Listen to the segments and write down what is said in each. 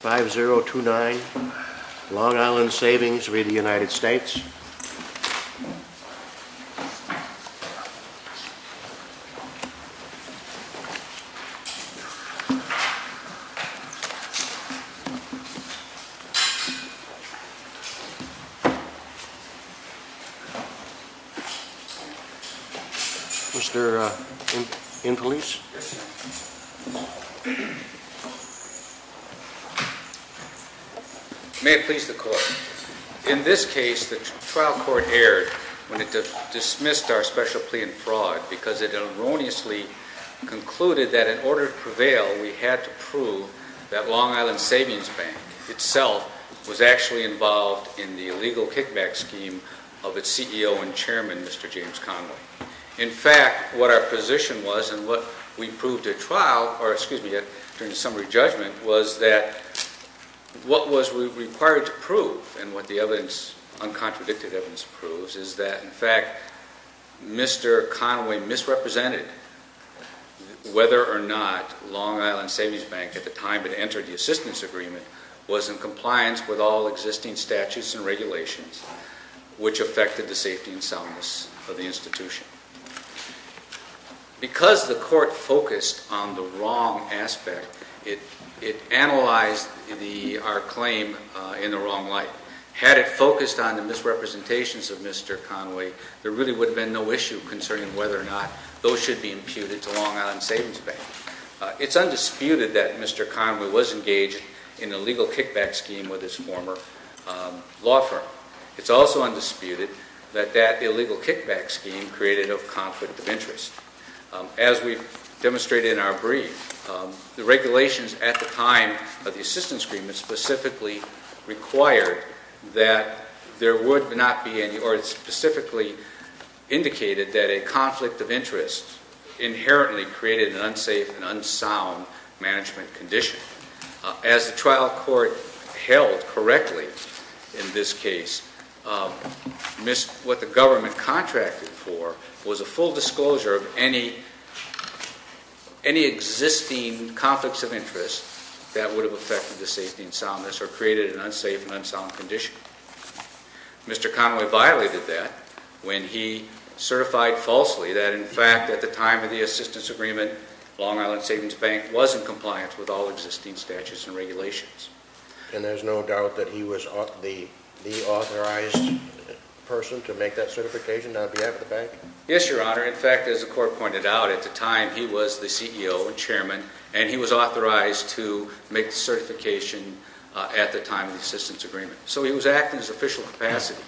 5029 Long Island Savings v. United States Mr. Infelice May it please the Court. In this case, the trial court erred when it dismissed our special plea in fraud because it erroneously concluded that in order to prevail, we had to prove that Long Island Savings Bank itself was actually involved in the illegal kickback scheme of its CEO and chairman, Mr. James Conway. In fact, what our position was and what we proved at trial, or excuse me, during the summary judgment, was that what was required to prove and what the uncontradicted evidence proves is that, in fact, Mr. Conway misrepresented whether or not Long Island Savings Bank, at the time it entered the assistance agreement, was in compliance with all existing statutes and regulations which affected the safety and soundness of the institution. Because the court focused on the wrong aspect, it analyzed our claim in the wrong light. Had it focused on the misrepresentations of Mr. Conway, there really would have been no issue concerning whether or not those should be imputed to Long Island Savings Bank. It's undisputed that Mr. Conway was engaged in an illegal kickback scheme with his former law firm. It's also undisputed that that illegal kickback scheme created a conflict of interest. As we've demonstrated in our brief, the regulations at the time of the assistance agreement specifically required that there would not be any, or specifically indicated that a conflict of interest inherently created an unsafe and unsound management condition. As the trial court held correctly in this case, what the government contracted for was a full disclosure of any existing conflicts of interest that would have affected the safety and soundness or created an unsafe and unsound condition. Mr. Conway violated that when he certified falsely that, in fact, at the time of the assistance agreement, Long Island Savings Bank was in compliance with all existing statutes and regulations. And there's no doubt that he was the authorized person to make that certification on behalf of the bank? Yes, Your Honor. In fact, as the court pointed out, at the time he was the CEO and chairman, and he was authorized to make the certification at the time of the assistance agreement. So he was acting in his official capacity.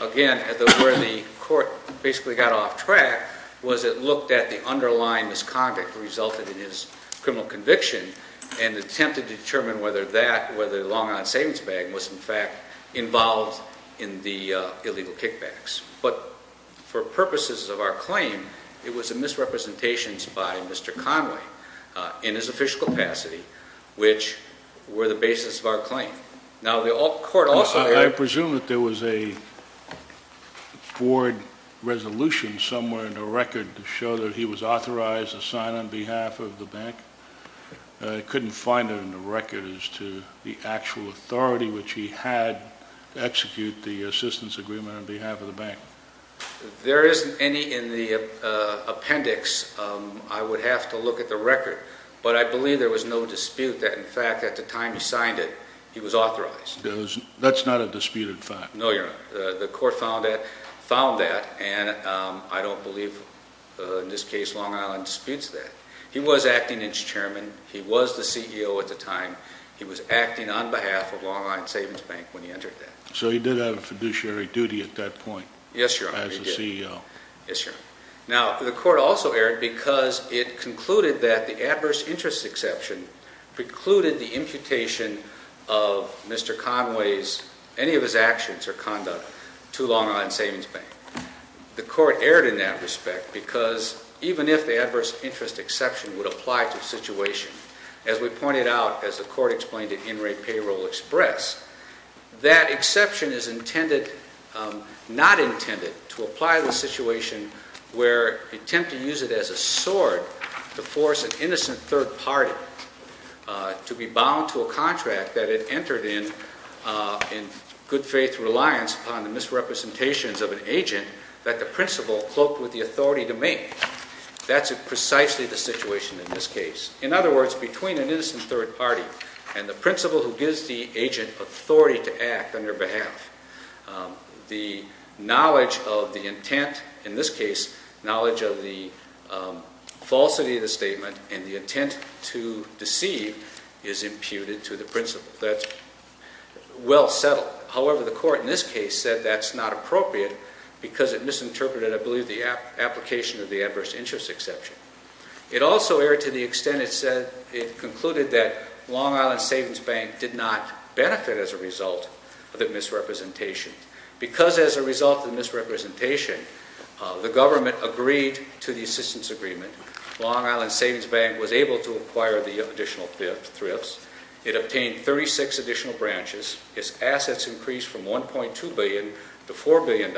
Again, where the court basically got off track was it looked at the underlying misconduct that resulted in his criminal conviction and attempted to determine whether Long Island Savings Bank was, in fact, involved in the illegal kickbacks. But for purposes of our claim, it was a misrepresentation by Mr. Conway in his official capacity, which were the basis of our claim. Now, the court also... ...bored resolution somewhere in the record to show that he was authorized to sign on behalf of the bank. I couldn't find it in the record as to the actual authority which he had to execute the assistance agreement on behalf of the bank. There isn't any in the appendix. I would have to look at the record. But I believe there was no dispute that, in fact, at the time he signed it, he was authorized. That's not a disputed fact. No, Your Honor. The court found that, and I don't believe, in this case, Long Island disputes that. He was acting as chairman. He was the CEO at the time. He was acting on behalf of Long Island Savings Bank when he entered that. So he did have a fiduciary duty at that point. Yes, Your Honor, he did. As the CEO. Yes, Your Honor. Now, the court also erred because it concluded that the adverse interest exception precluded the imputation of Mr. Conway's... or conduct to Long Island Savings Bank. The court erred in that respect because even if the adverse interest exception would apply to the situation, as we pointed out as the court explained in In Re Payroll Express, that exception is intended... not intended to apply to a situation where an attempt to use it as a sword to force an innocent third party to be bound to a contract that it entered in in good faith reliance upon the misrepresentations of an agent that the principal cloaked with the authority to make. That's precisely the situation in this case. In other words, between an innocent third party and the principal who gives the agent authority to act on their behalf, the knowledge of the intent, in this case, knowledge of the falsity of the statement and the intent to deceive is imputed to the principal. That's well settled. However, the court in this case said that's not appropriate because it misinterpreted, I believe, the application of the adverse interest exception. It also erred to the extent it concluded that Long Island Savings Bank did not benefit as a result of the misrepresentation. Because as a result of the misrepresentation, the government agreed to the assistance agreement. Long Island Savings Bank was able to acquire the additional thrifts. It obtained 36 additional branches. Its assets increased from $1.2 billion to $4 billion.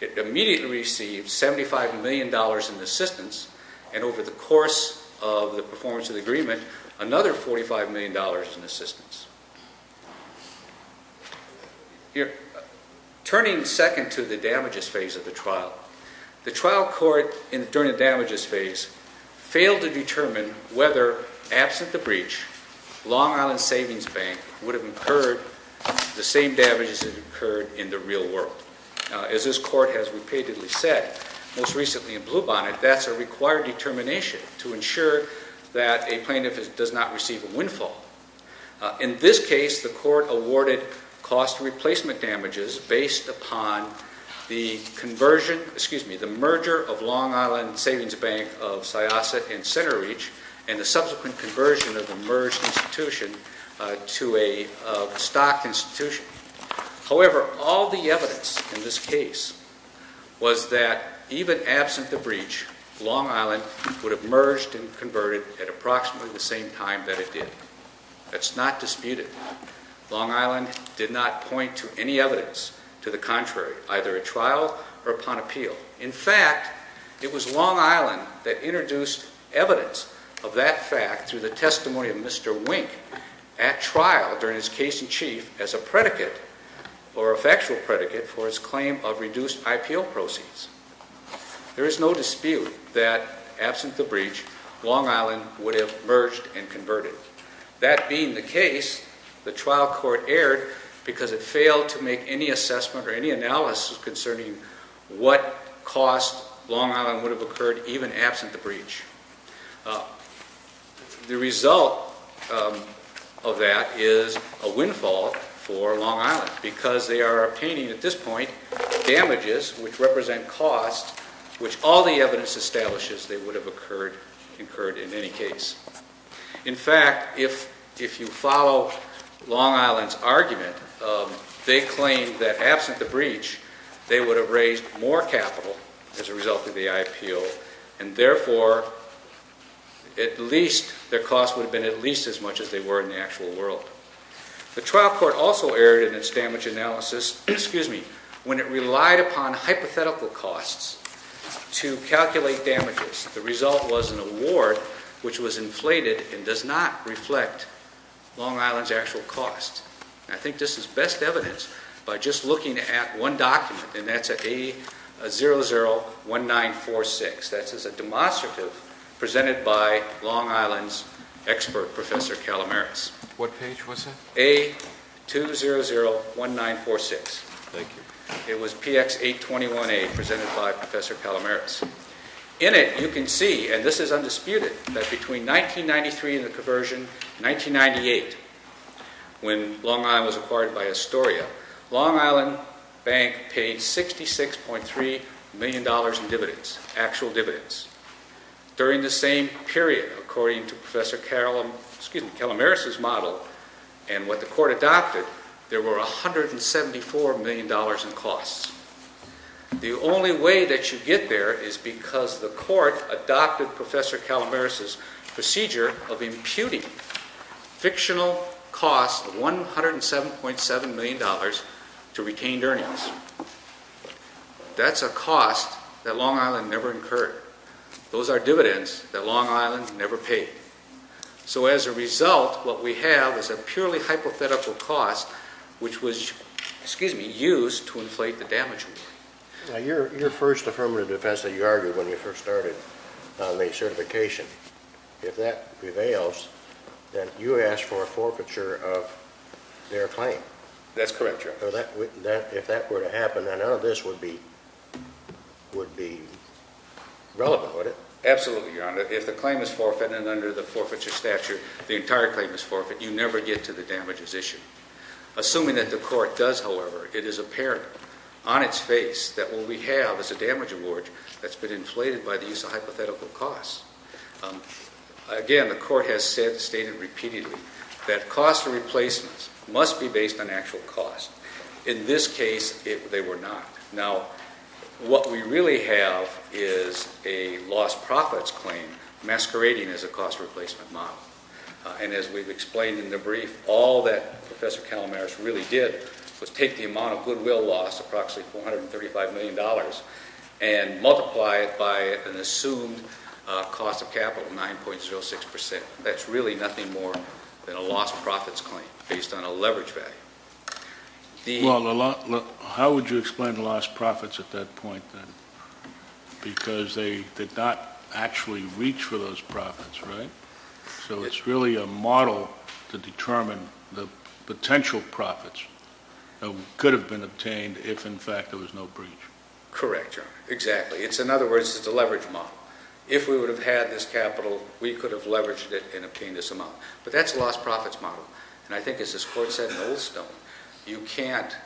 It immediately received $75 million in assistance, and over the course of the performance of the agreement, another $45 million in assistance. Turning second to the damages phase of the trial, the trial court during the damages phase failed to determine whether, absent the breach, Long Island Savings Bank would have incurred the same damages that occurred in the real world. As this court has repeatedly said, most recently in Bluebonnet, that's a required determination to ensure that a plaintiff does not receive a windfall. In this case, the court awarded cost replacement damages based upon the conversion, excuse me, the merger of Long Island Savings Bank of Syosset and CenterReach and the subsequent conversion of the merged institution to a stock institution. However, all the evidence in this case was that even absent the breach, Long Island would have merged and converted at approximately the same time that it did. That's not disputed. Long Island did not point to any evidence to the contrary, either at trial or upon appeal. In fact, it was Long Island that introduced evidence of that fact through the testimony of Mr. Wink at trial during his case in chief as a predicate or a factual predicate for his claim of reduced IPO proceeds. There is no dispute that, absent the breach, Long Island would have merged and converted. That being the case, the trial court erred because it failed to make any assessment or any analysis concerning what cost Long Island would have incurred even absent the breach. The result of that is a windfall for Long Island because they are obtaining, at this point, damages which represent costs which all the evidence establishes they would have incurred in any case. In fact, if you follow Long Island's argument, they claim that, absent the breach, they would have raised more capital as a result of the IPO and, therefore, their costs would have been at least as much as they were in the actual world. The trial court also erred in its damage analysis when it relied upon hypothetical costs to calculate damages. The result was an award which was inflated and does not reflect Long Island's actual costs. I think this is best evidence by just looking at one document, and that's at A001946. That is a demonstrative presented by Long Island's expert, Professor Kalamaris. What page was that? A2001946. Thank you. It was PX821A presented by Professor Kalamaris. In it, you can see, and this is undisputed, that between 1993 and the conversion, 1998, when Long Island was acquired by Astoria, Long Island Bank paid $66.3 million in dividends, actual dividends. During the same period, according to Professor Kalamaris' model and what the court adopted, there were $174 million in costs. The only way that you get there is because the court adopted Professor Kalamaris' procedure of imputing fictional costs of $107.7 million to retained earnings. That's a cost that Long Island never incurred. Those are dividends that Long Island never paid. So as a result, what we have is a purely hypothetical cost which was used to inflate the damage award. Your first affirmative defense that you argued when you first started on the certification, if that prevails, then you asked for a forfeiture of their claim. That's correct, Your Honor. If that were to happen, then none of this would be relevant, would it? Absolutely, Your Honor. If the claim is forfeited under the forfeiture statute, the entire claim is forfeited, you never get to the damages issue. Assuming that the court does, however, it is apparent on its face that what we have is a damage award that's been inflated by the use of hypothetical costs. Again, the court has stated repeatedly that cost of replacements must be based on actual cost. In this case, they were not. Now, what we really have is a lost profits claim masquerading as a cost of replacement model. And as we've explained in the brief, all that Professor Calamaris really did was take the amount of goodwill lost, approximately $435 million, and multiply it by an assumed cost of capital, 9.06%. That's really nothing more than a lost profits claim based on a leverage value. Well, how would you explain lost profits at that point then? Because they did not actually reach for those profits, right? So it's really a model to determine the potential profits that could have been obtained if, in fact, there was no breach. Correct, exactly. In other words, it's a leverage model. If we would have had this capital, we could have leveraged it and obtained this amount. But that's a lost profits model. And I think, as this Court said in Oldstone, you can't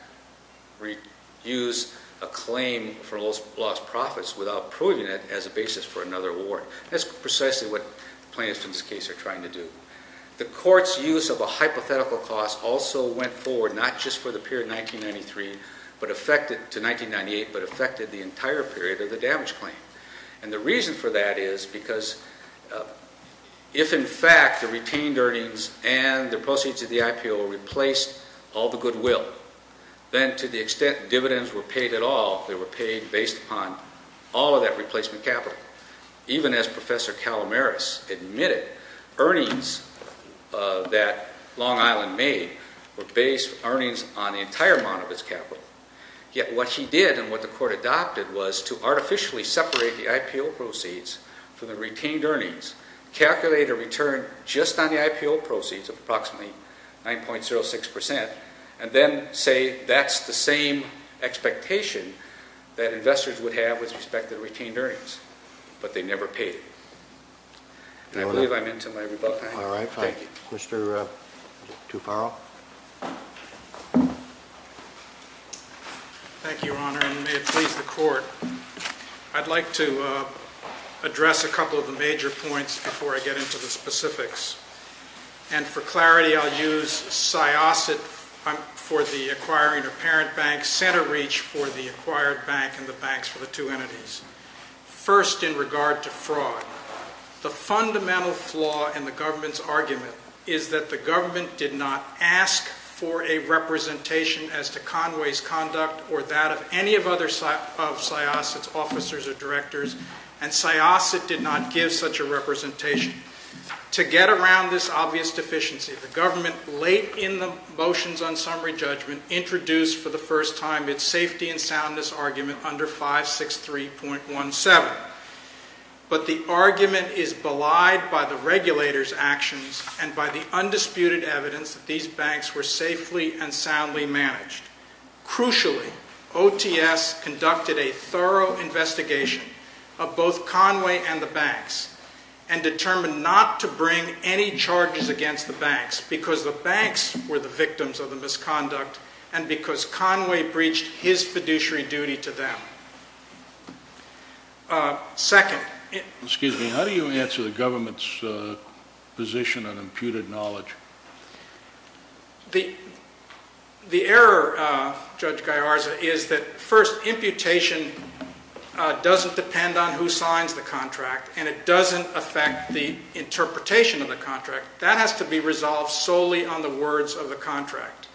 use a claim for lost profits without proving it as a basis for another award. That's precisely what plaintiffs in this case are trying to do. The Court's use of a hypothetical cost also went forward not just for the period 1993, but affected to 1998, but affected the entire period of the damage claim. And the reason for that is because if, in fact, the retained earnings and the proceeds of the IPO replaced all the goodwill, then to the extent dividends were paid at all, they were paid based upon all of that replacement capital. Even as Professor Calamaris admitted, earnings that Long Island made were based earnings on the entire amount of its capital. Yet what he did and what the Court adopted was to artificially separate the IPO proceeds from the retained earnings, calculate a return just on the IPO proceeds of approximately 9.06%, and then say that's the same expectation that investors would have with respect to retained earnings. But they never paid. And I believe I'm into my rebuttal. All right. Thank you. Mr. Tufaro. Thank you, Your Honor, and may it please the Court. I'd like to address a couple of the major points before I get into the specifics. And for clarity, I'll use SIOSIT for the acquiring of parent banks, CENTERREACH for the acquired bank, and the banks for the two entities. First, in regard to fraud, the fundamental flaw in the government's argument is that the government did not ask for a representation as to Conway's conduct or that of any of SIOSIT's officers or directors, and SIOSIT did not give such a representation. To get around this obvious deficiency, the government late in the motions on summary judgment introduced for the first time its safety and soundness argument under 563.17. But the argument is belied by the regulators' actions and by the undisputed evidence that these banks were safely and soundly managed. Crucially, OTS conducted a thorough investigation of both Conway and the banks and determined not to bring any charges against the banks because the banks were the victims of the misconduct and because Conway breached his fiduciary duty to them. Second... Excuse me. How do you answer the government's position on imputed knowledge? The error, Judge Gallarza, is that, first, imputation doesn't depend on who signs the contract and it doesn't affect the interpretation of the contract. That has to be resolved solely on the words of the contract.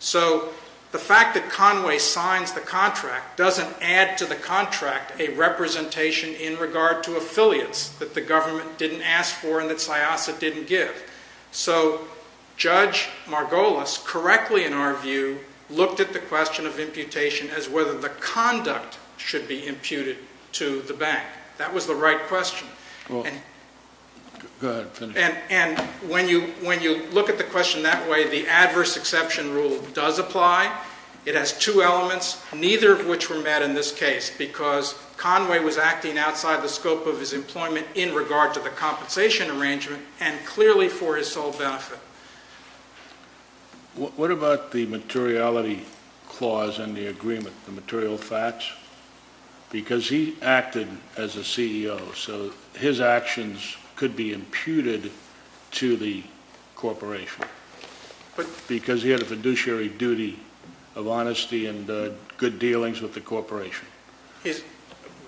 So the fact that Conway signs the contract doesn't add to the contract a representation in regard to affiliates that the government didn't ask for and that SIASA didn't give. So Judge Margolis correctly, in our view, looked at the question of imputation as whether the conduct should be imputed to the bank. That was the right question. Go ahead and finish. And when you look at the question that way, the adverse exception rule does apply. It has two elements, neither of which were met in this case because Conway was acting outside the scope of his employment in regard to the compensation arrangement and clearly for his sole benefit. What about the materiality clause in the agreement, the material facts? Because he acted as a CEO, so his actions could be imputed to the corporation. Because he had a fiduciary duty of honesty and good dealings with the corporation.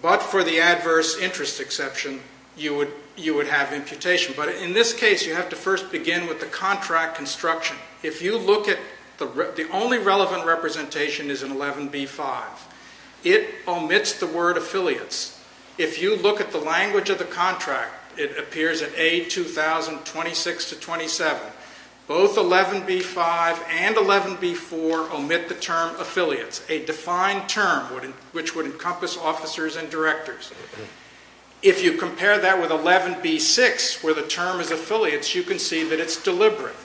But for the adverse interest exception, you would have imputation. But in this case, you have to first begin with the contract construction. If you look at the only relevant representation is in 11B-5, it omits the word affiliates. If you look at the language of the contract, it appears at A2000-26-27. Both 11B-5 and 11B-4 omit the term affiliates, a defined term which would encompass officers and directors. If you compare that with 11B-6 where the term is affiliates, you can see that it's deliberate.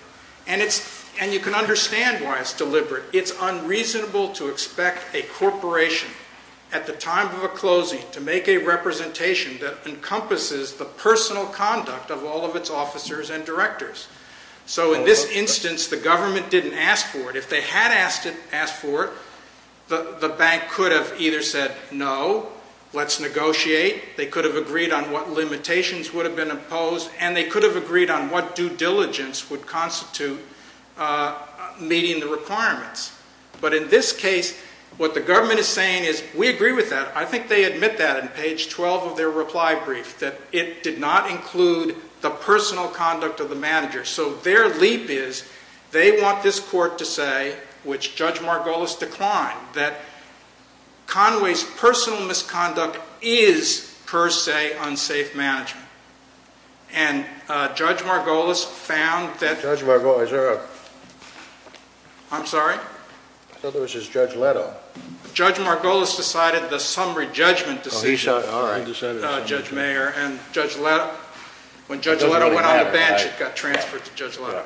And you can understand why it's deliberate. It's unreasonable to expect a corporation at the time of a closing to make a representation that encompasses the personal conduct of all of its officers and directors. So in this instance, the government didn't ask for it. If they had asked for it, the bank could have either said, no, let's negotiate. They could have agreed on what limitations would have been imposed. And they could have agreed on what due diligence would constitute meeting the requirements. But in this case, what the government is saying is, we agree with that. I think they admit that in page 12 of their reply brief, that it did not include the personal conduct of the manager. So their leap is, they want this court to say, which Judge Margolis declined, that Conway's personal misconduct is, per se, unsafe management. And Judge Margolis found that... Judge Margolis, is there a... I'm sorry? I thought there was just Judge Leto. Judge Margolis decided the summary judgment decision. Judge Mayer and Judge Leto. When Judge Leto went on the bench, it got transferred to Judge Leto.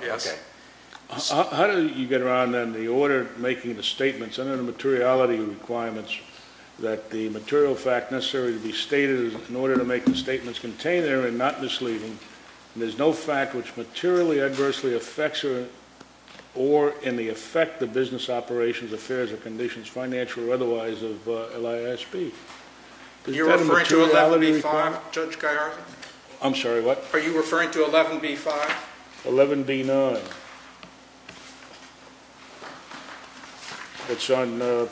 How did you get around, then, the order making the statements under the materiality requirements that the material fact necessary to be stated in order to make the statements contained there and not misleading, and there's no fact which materially adversely affects or in the effect the business operations, affairs, or conditions, financial or otherwise, of LISB? You're referring to 11B-5, Judge Guyar? I'm sorry, what? Are you referring to 11B-5? 11B-9. It's on the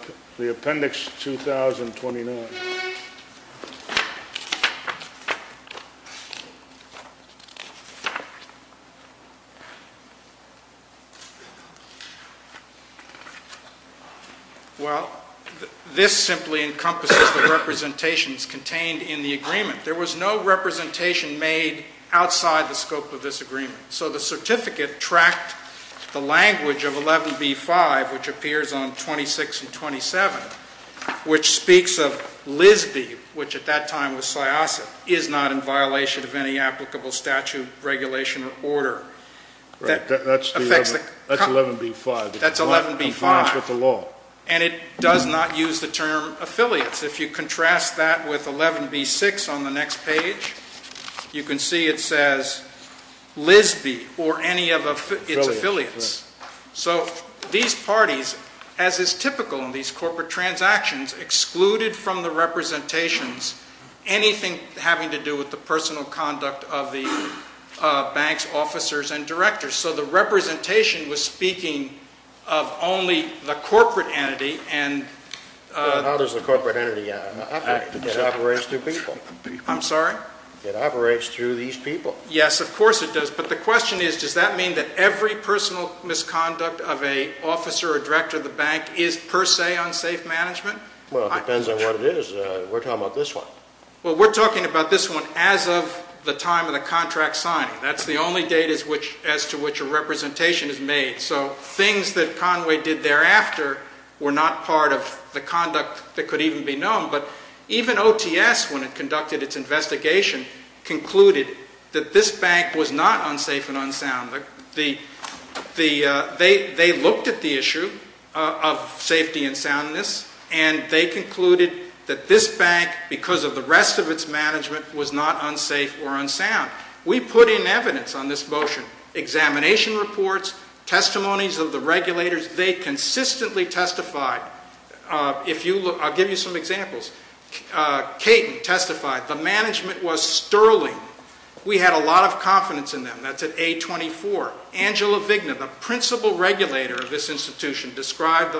appendix 2029. Well, this simply encompasses the representations contained in the agreement. There was no representation made outside the scope of this agreement. So the certificate tracked the language of 11B-5, which appears on 26 and 27, which speaks of LISB, which speaks of LISB, LISB, which at that time was SIASAT, is not in violation of any applicable statute, regulation, or order. That's 11B-5. That's 11B-5. And it does not use the term affiliates. If you contrast that with 11B-6 on the next page, you can see it says LISB or any of its affiliates. So these parties, as is typical in these corporate transactions, excluded from the representations anything having to do with the personal conduct of the banks, officers, and directors. So the representation was speaking of only the corporate entity. Now there's a corporate entity. It operates through people. I'm sorry? It operates through these people. Yes, of course it does. But the question is, does that mean that every personal misconduct of an officer or director of the bank is per se unsafe management? Well, it depends on what it is. We're talking about this one. Well, we're talking about this one as of the time of the contract signing. That's the only date as to which a representation is made. So things that Conway did thereafter were not part of the conduct that could even be known. But even OTS, when it conducted its investigation, concluded that this bank was not unsafe and unsound. They looked at the issue of safety and soundness, and they concluded that this bank, because of the rest of its management, was not unsafe or unsound. We put in evidence on this motion, examination reports, testimonies of the regulators. They consistently testified. I'll give you some examples. Caton testified. The management was sterling. We had a lot of confidence in them. That's at A24. Angela Vigna, the principal regulator of this institution, described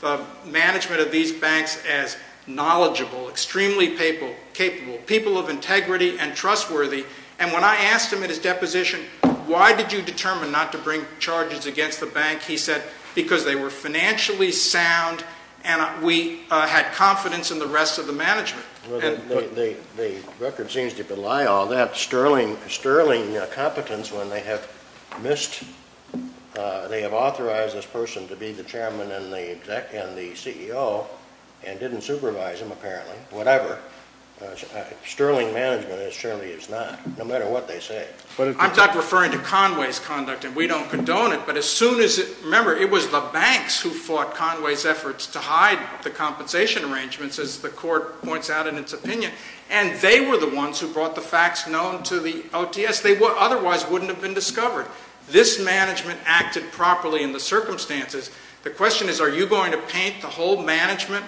the management of these banks as knowledgeable, extremely capable, people of integrity and trustworthy. And when I asked him at his deposition, why did you determine not to bring charges against the bank, he said, because they were financially sound and we had confidence in the rest of the management. The record seems to belie all that. Sterling competence, when they have authorized this person to be the chairman and the CEO, and didn't supervise him, apparently, whatever, sterling management surely is not, no matter what they say. I'm not referring to Conway's conduct, and we don't condone it, but remember, it was the banks who fought Conway's efforts to hide the compensation arrangements, as the court points out in its opinion. And they were the ones who brought the facts known to the OTS. They otherwise wouldn't have been discovered. This management acted properly in the circumstances. The question is, are you going to paint the whole management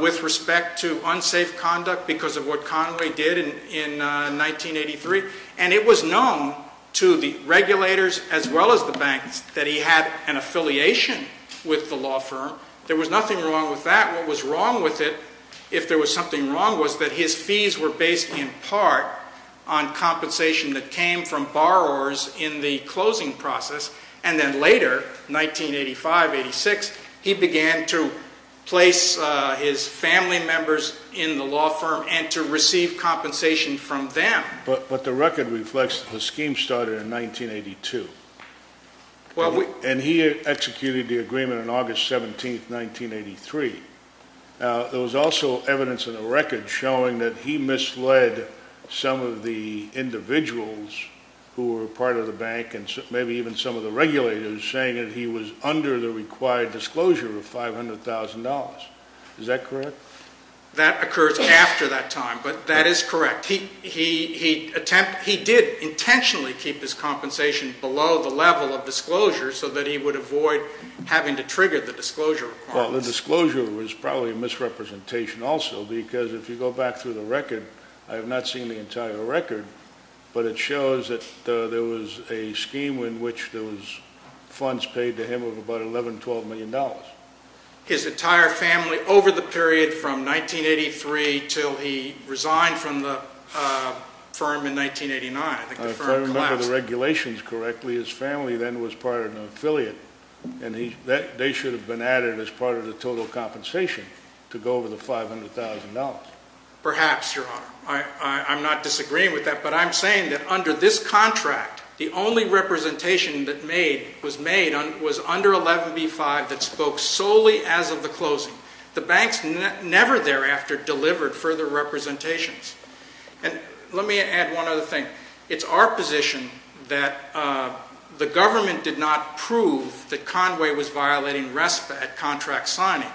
with respect to unsafe conduct because of what Conway did in 1983? And it was known to the regulators as well as the banks that he had an affiliation with the law firm. There was nothing wrong with that. In fact, what was wrong with it, if there was something wrong, was that his fees were based in part on compensation that came from borrowers in the closing process, and then later, 1985, 1986, he began to place his family members in the law firm and to receive compensation from them. But the record reflects the scheme started in 1982. And he executed the agreement on August 17, 1983. There was also evidence in the record showing that he misled some of the individuals who were part of the bank and maybe even some of the regulators, saying that he was under the required disclosure of $500,000. Is that correct? That occurs after that time, but that is correct. He did intentionally keep his compensation below the level of disclosure so that he would avoid having to trigger the disclosure requirements. Well, the disclosure was probably a misrepresentation also because if you go back through the record, I have not seen the entire record, but it shows that there was a scheme in which there was funds paid to him of about $11 million, $12 million. His entire family over the period from 1983 till he resigned from the firm in 1989. If I remember the regulations correctly, his family then was part of an affiliate, and they should have been added as part of the total compensation to go over the $500,000. Perhaps, Your Honor. I'm not disagreeing with that. But I'm saying that under this contract, the only representation that was made was under 11b-5 that spoke solely as of the closing. The banks never thereafter delivered further representations. And let me add one other thing. It's our position that the government did not prove that Conway was violating RESPA at contract signing.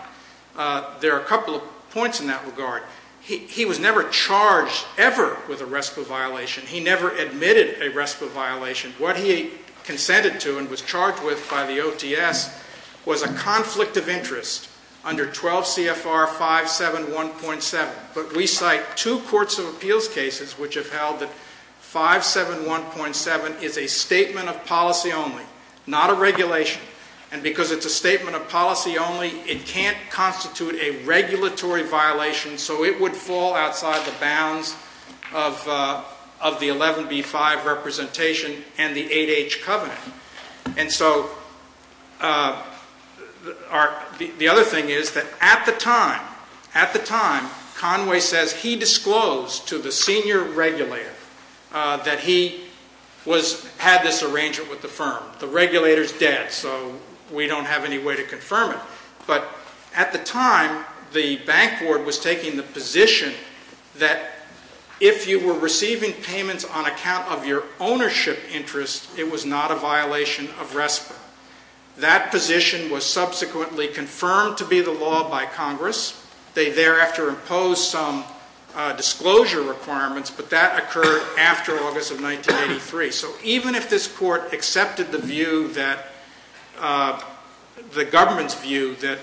There are a couple of points in that regard. He was never charged ever with a RESPA violation. He never admitted a RESPA violation. What he consented to and was charged with by the OTS was a conflict of interest under 12 CFR 571.7. But we cite two courts of appeals cases which have held that 571.7 is a statement of policy only, not a regulation. And because it's a statement of policy only, it can't constitute a regulatory violation, so it would fall outside the bounds of the 11b-5 representation and the 8H covenant. And so the other thing is that at the time, Conway says he disclosed to the senior regulator that he had this arrangement with the firm. The regulator's dead, so we don't have any way to confirm it. But at the time, the bank board was taking the position that if you were receiving payments on account of your ownership interest, it was not a violation of RESPA. That position was subsequently confirmed to be the law by Congress. They thereafter imposed some disclosure requirements, but that occurred after August of 1983. So even if this court accepted the view that the government's view that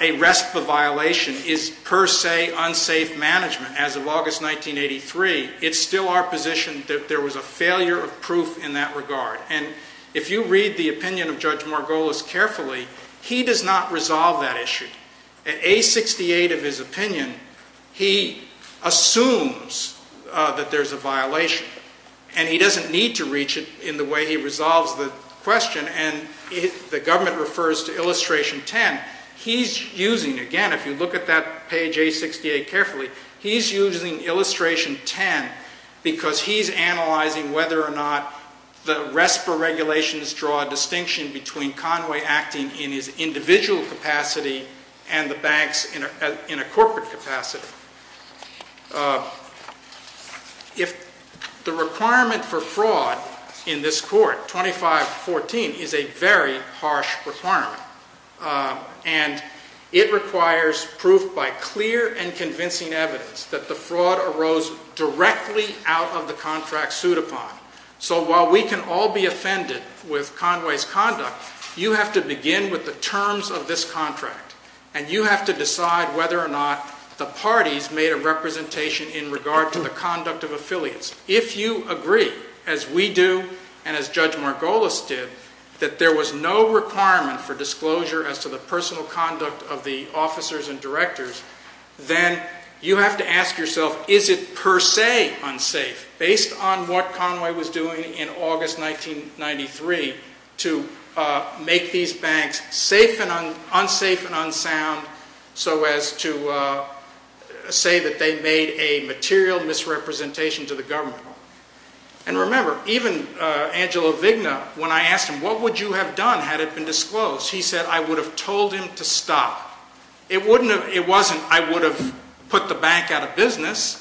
a RESPA violation is per se unsafe management as of August 1983, it's still our position that there was a failure of proof in that regard. And if you read the opinion of Judge Margolis carefully, he does not resolve that issue. At A68 of his opinion, he assumes that there's a violation, and he doesn't need to reach it in the way he resolves the question. And the government refers to illustration 10. He's using, again, if you look at that page A68 carefully, he's using illustration 10 because he's analyzing whether or not the RESPA regulations draw a distinction between Conway acting in his individual capacity and the bank's in a corporate capacity. If the requirement for fraud in this court, 2514, is a very harsh requirement, and it requires proof by clear and convincing evidence that the fraud arose directly out of the contract sued upon. So while we can all be offended with Conway's conduct, you have to begin with the terms of this contract, and you have to decide whether or not the parties made a representation in regard to the conduct of affiliates. If you agree, as we do and as Judge Margolis did, that there was no requirement for disclosure as to the personal conduct of the officers and directors, then you have to ask yourself, is it per se unsafe, based on what Conway was doing in August 1993, to make these banks unsafe and unsound so as to say that they made a material misrepresentation to the government. And remember, even Angelo Vigna, when I asked him, what would you have done had it been disclosed, he said I would have told him to stop. It wasn't I would have put the bank out of business.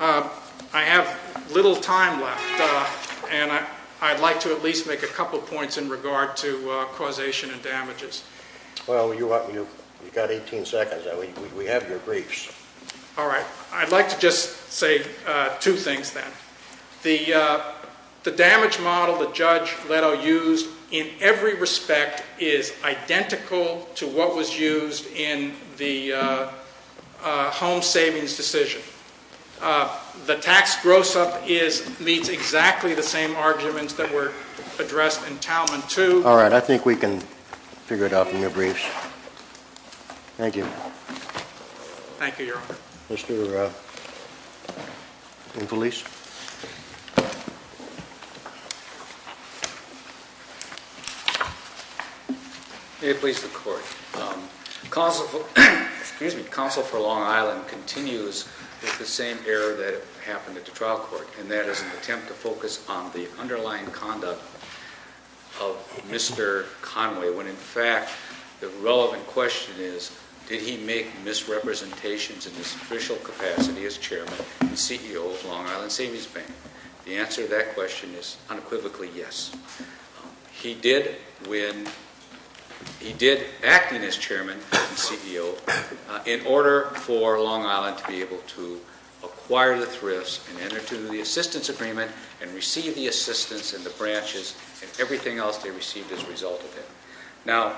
I have little time left, and I'd like to at least make a couple points in regard to causation and damages. Well, you've got 18 seconds. We have your briefs. All right. I'd like to just say two things, then. The damage model that Judge Leto used in every respect is identical to what was used in the home savings decision. The tax gross-up meets exactly the same arguments that were addressed in Talman II. All right. I think we can figure it out from your briefs. Thank you. Thank you, Your Honor. Mr. Infelice. May it please the Court. Counsel for Long Island continues with the same error that happened at the trial court, and that is an attempt to focus on the underlying conduct of Mr. Conway when, in fact, the relevant question is, did he make misrepresentations in his official capacity as chairman and CEO of Long Island Savings Bank? The answer to that question is unequivocally yes. He did when he did acting as chairman and CEO in order for Long Island to be able to acquire the thrifts and receive the assistance and the branches and everything else they received as a result of that. Now,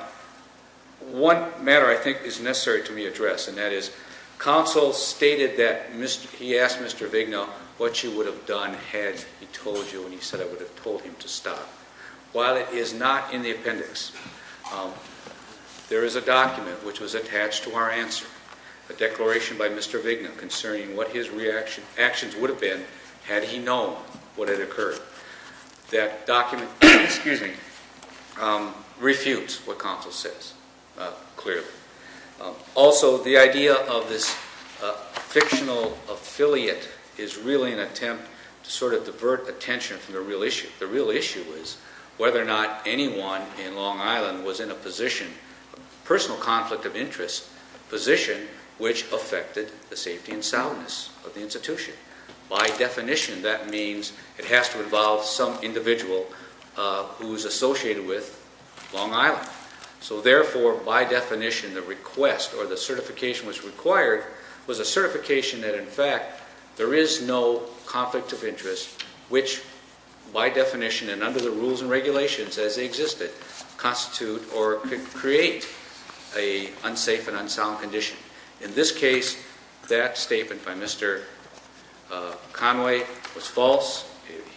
one matter I think is necessary to be addressed, and that is counsel stated that he asked Mr. Vigna what she would have done had he told you, and he said, I would have told him to stop. While it is not in the appendix, there is a document which was attached to our answer, a declaration by Mr. Vigna concerning what his actions would have been had he known what had occurred. That document refutes what counsel says, clearly. Also, the idea of this fictional affiliate is really an attempt to sort of divert attention from the real issue. The real issue is whether or not anyone in Long Island was in a personal conflict of interest position which affected the safety and soundness of the institution. By definition, that means it has to involve some individual who is associated with Long Island. So therefore, by definition, the request or the certification which was required was a certification that, in fact, there is no conflict of interest which, by definition and under the rules and regulations as they existed, constitute or could create an unsafe and unsound condition. In this case, that statement by Mr. Conway was false.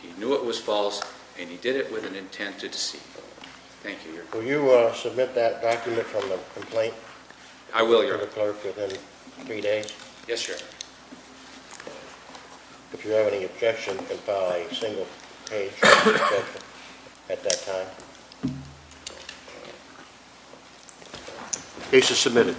He knew it was false, and he did it with an intent to deceive. Thank you, Your Honor. Will you submit that document from the complaint? I will, Your Honor. To the clerk within three days? Yes, Your Honor. If you have any objection, compile a single page at that time. The case is submitted. All rise.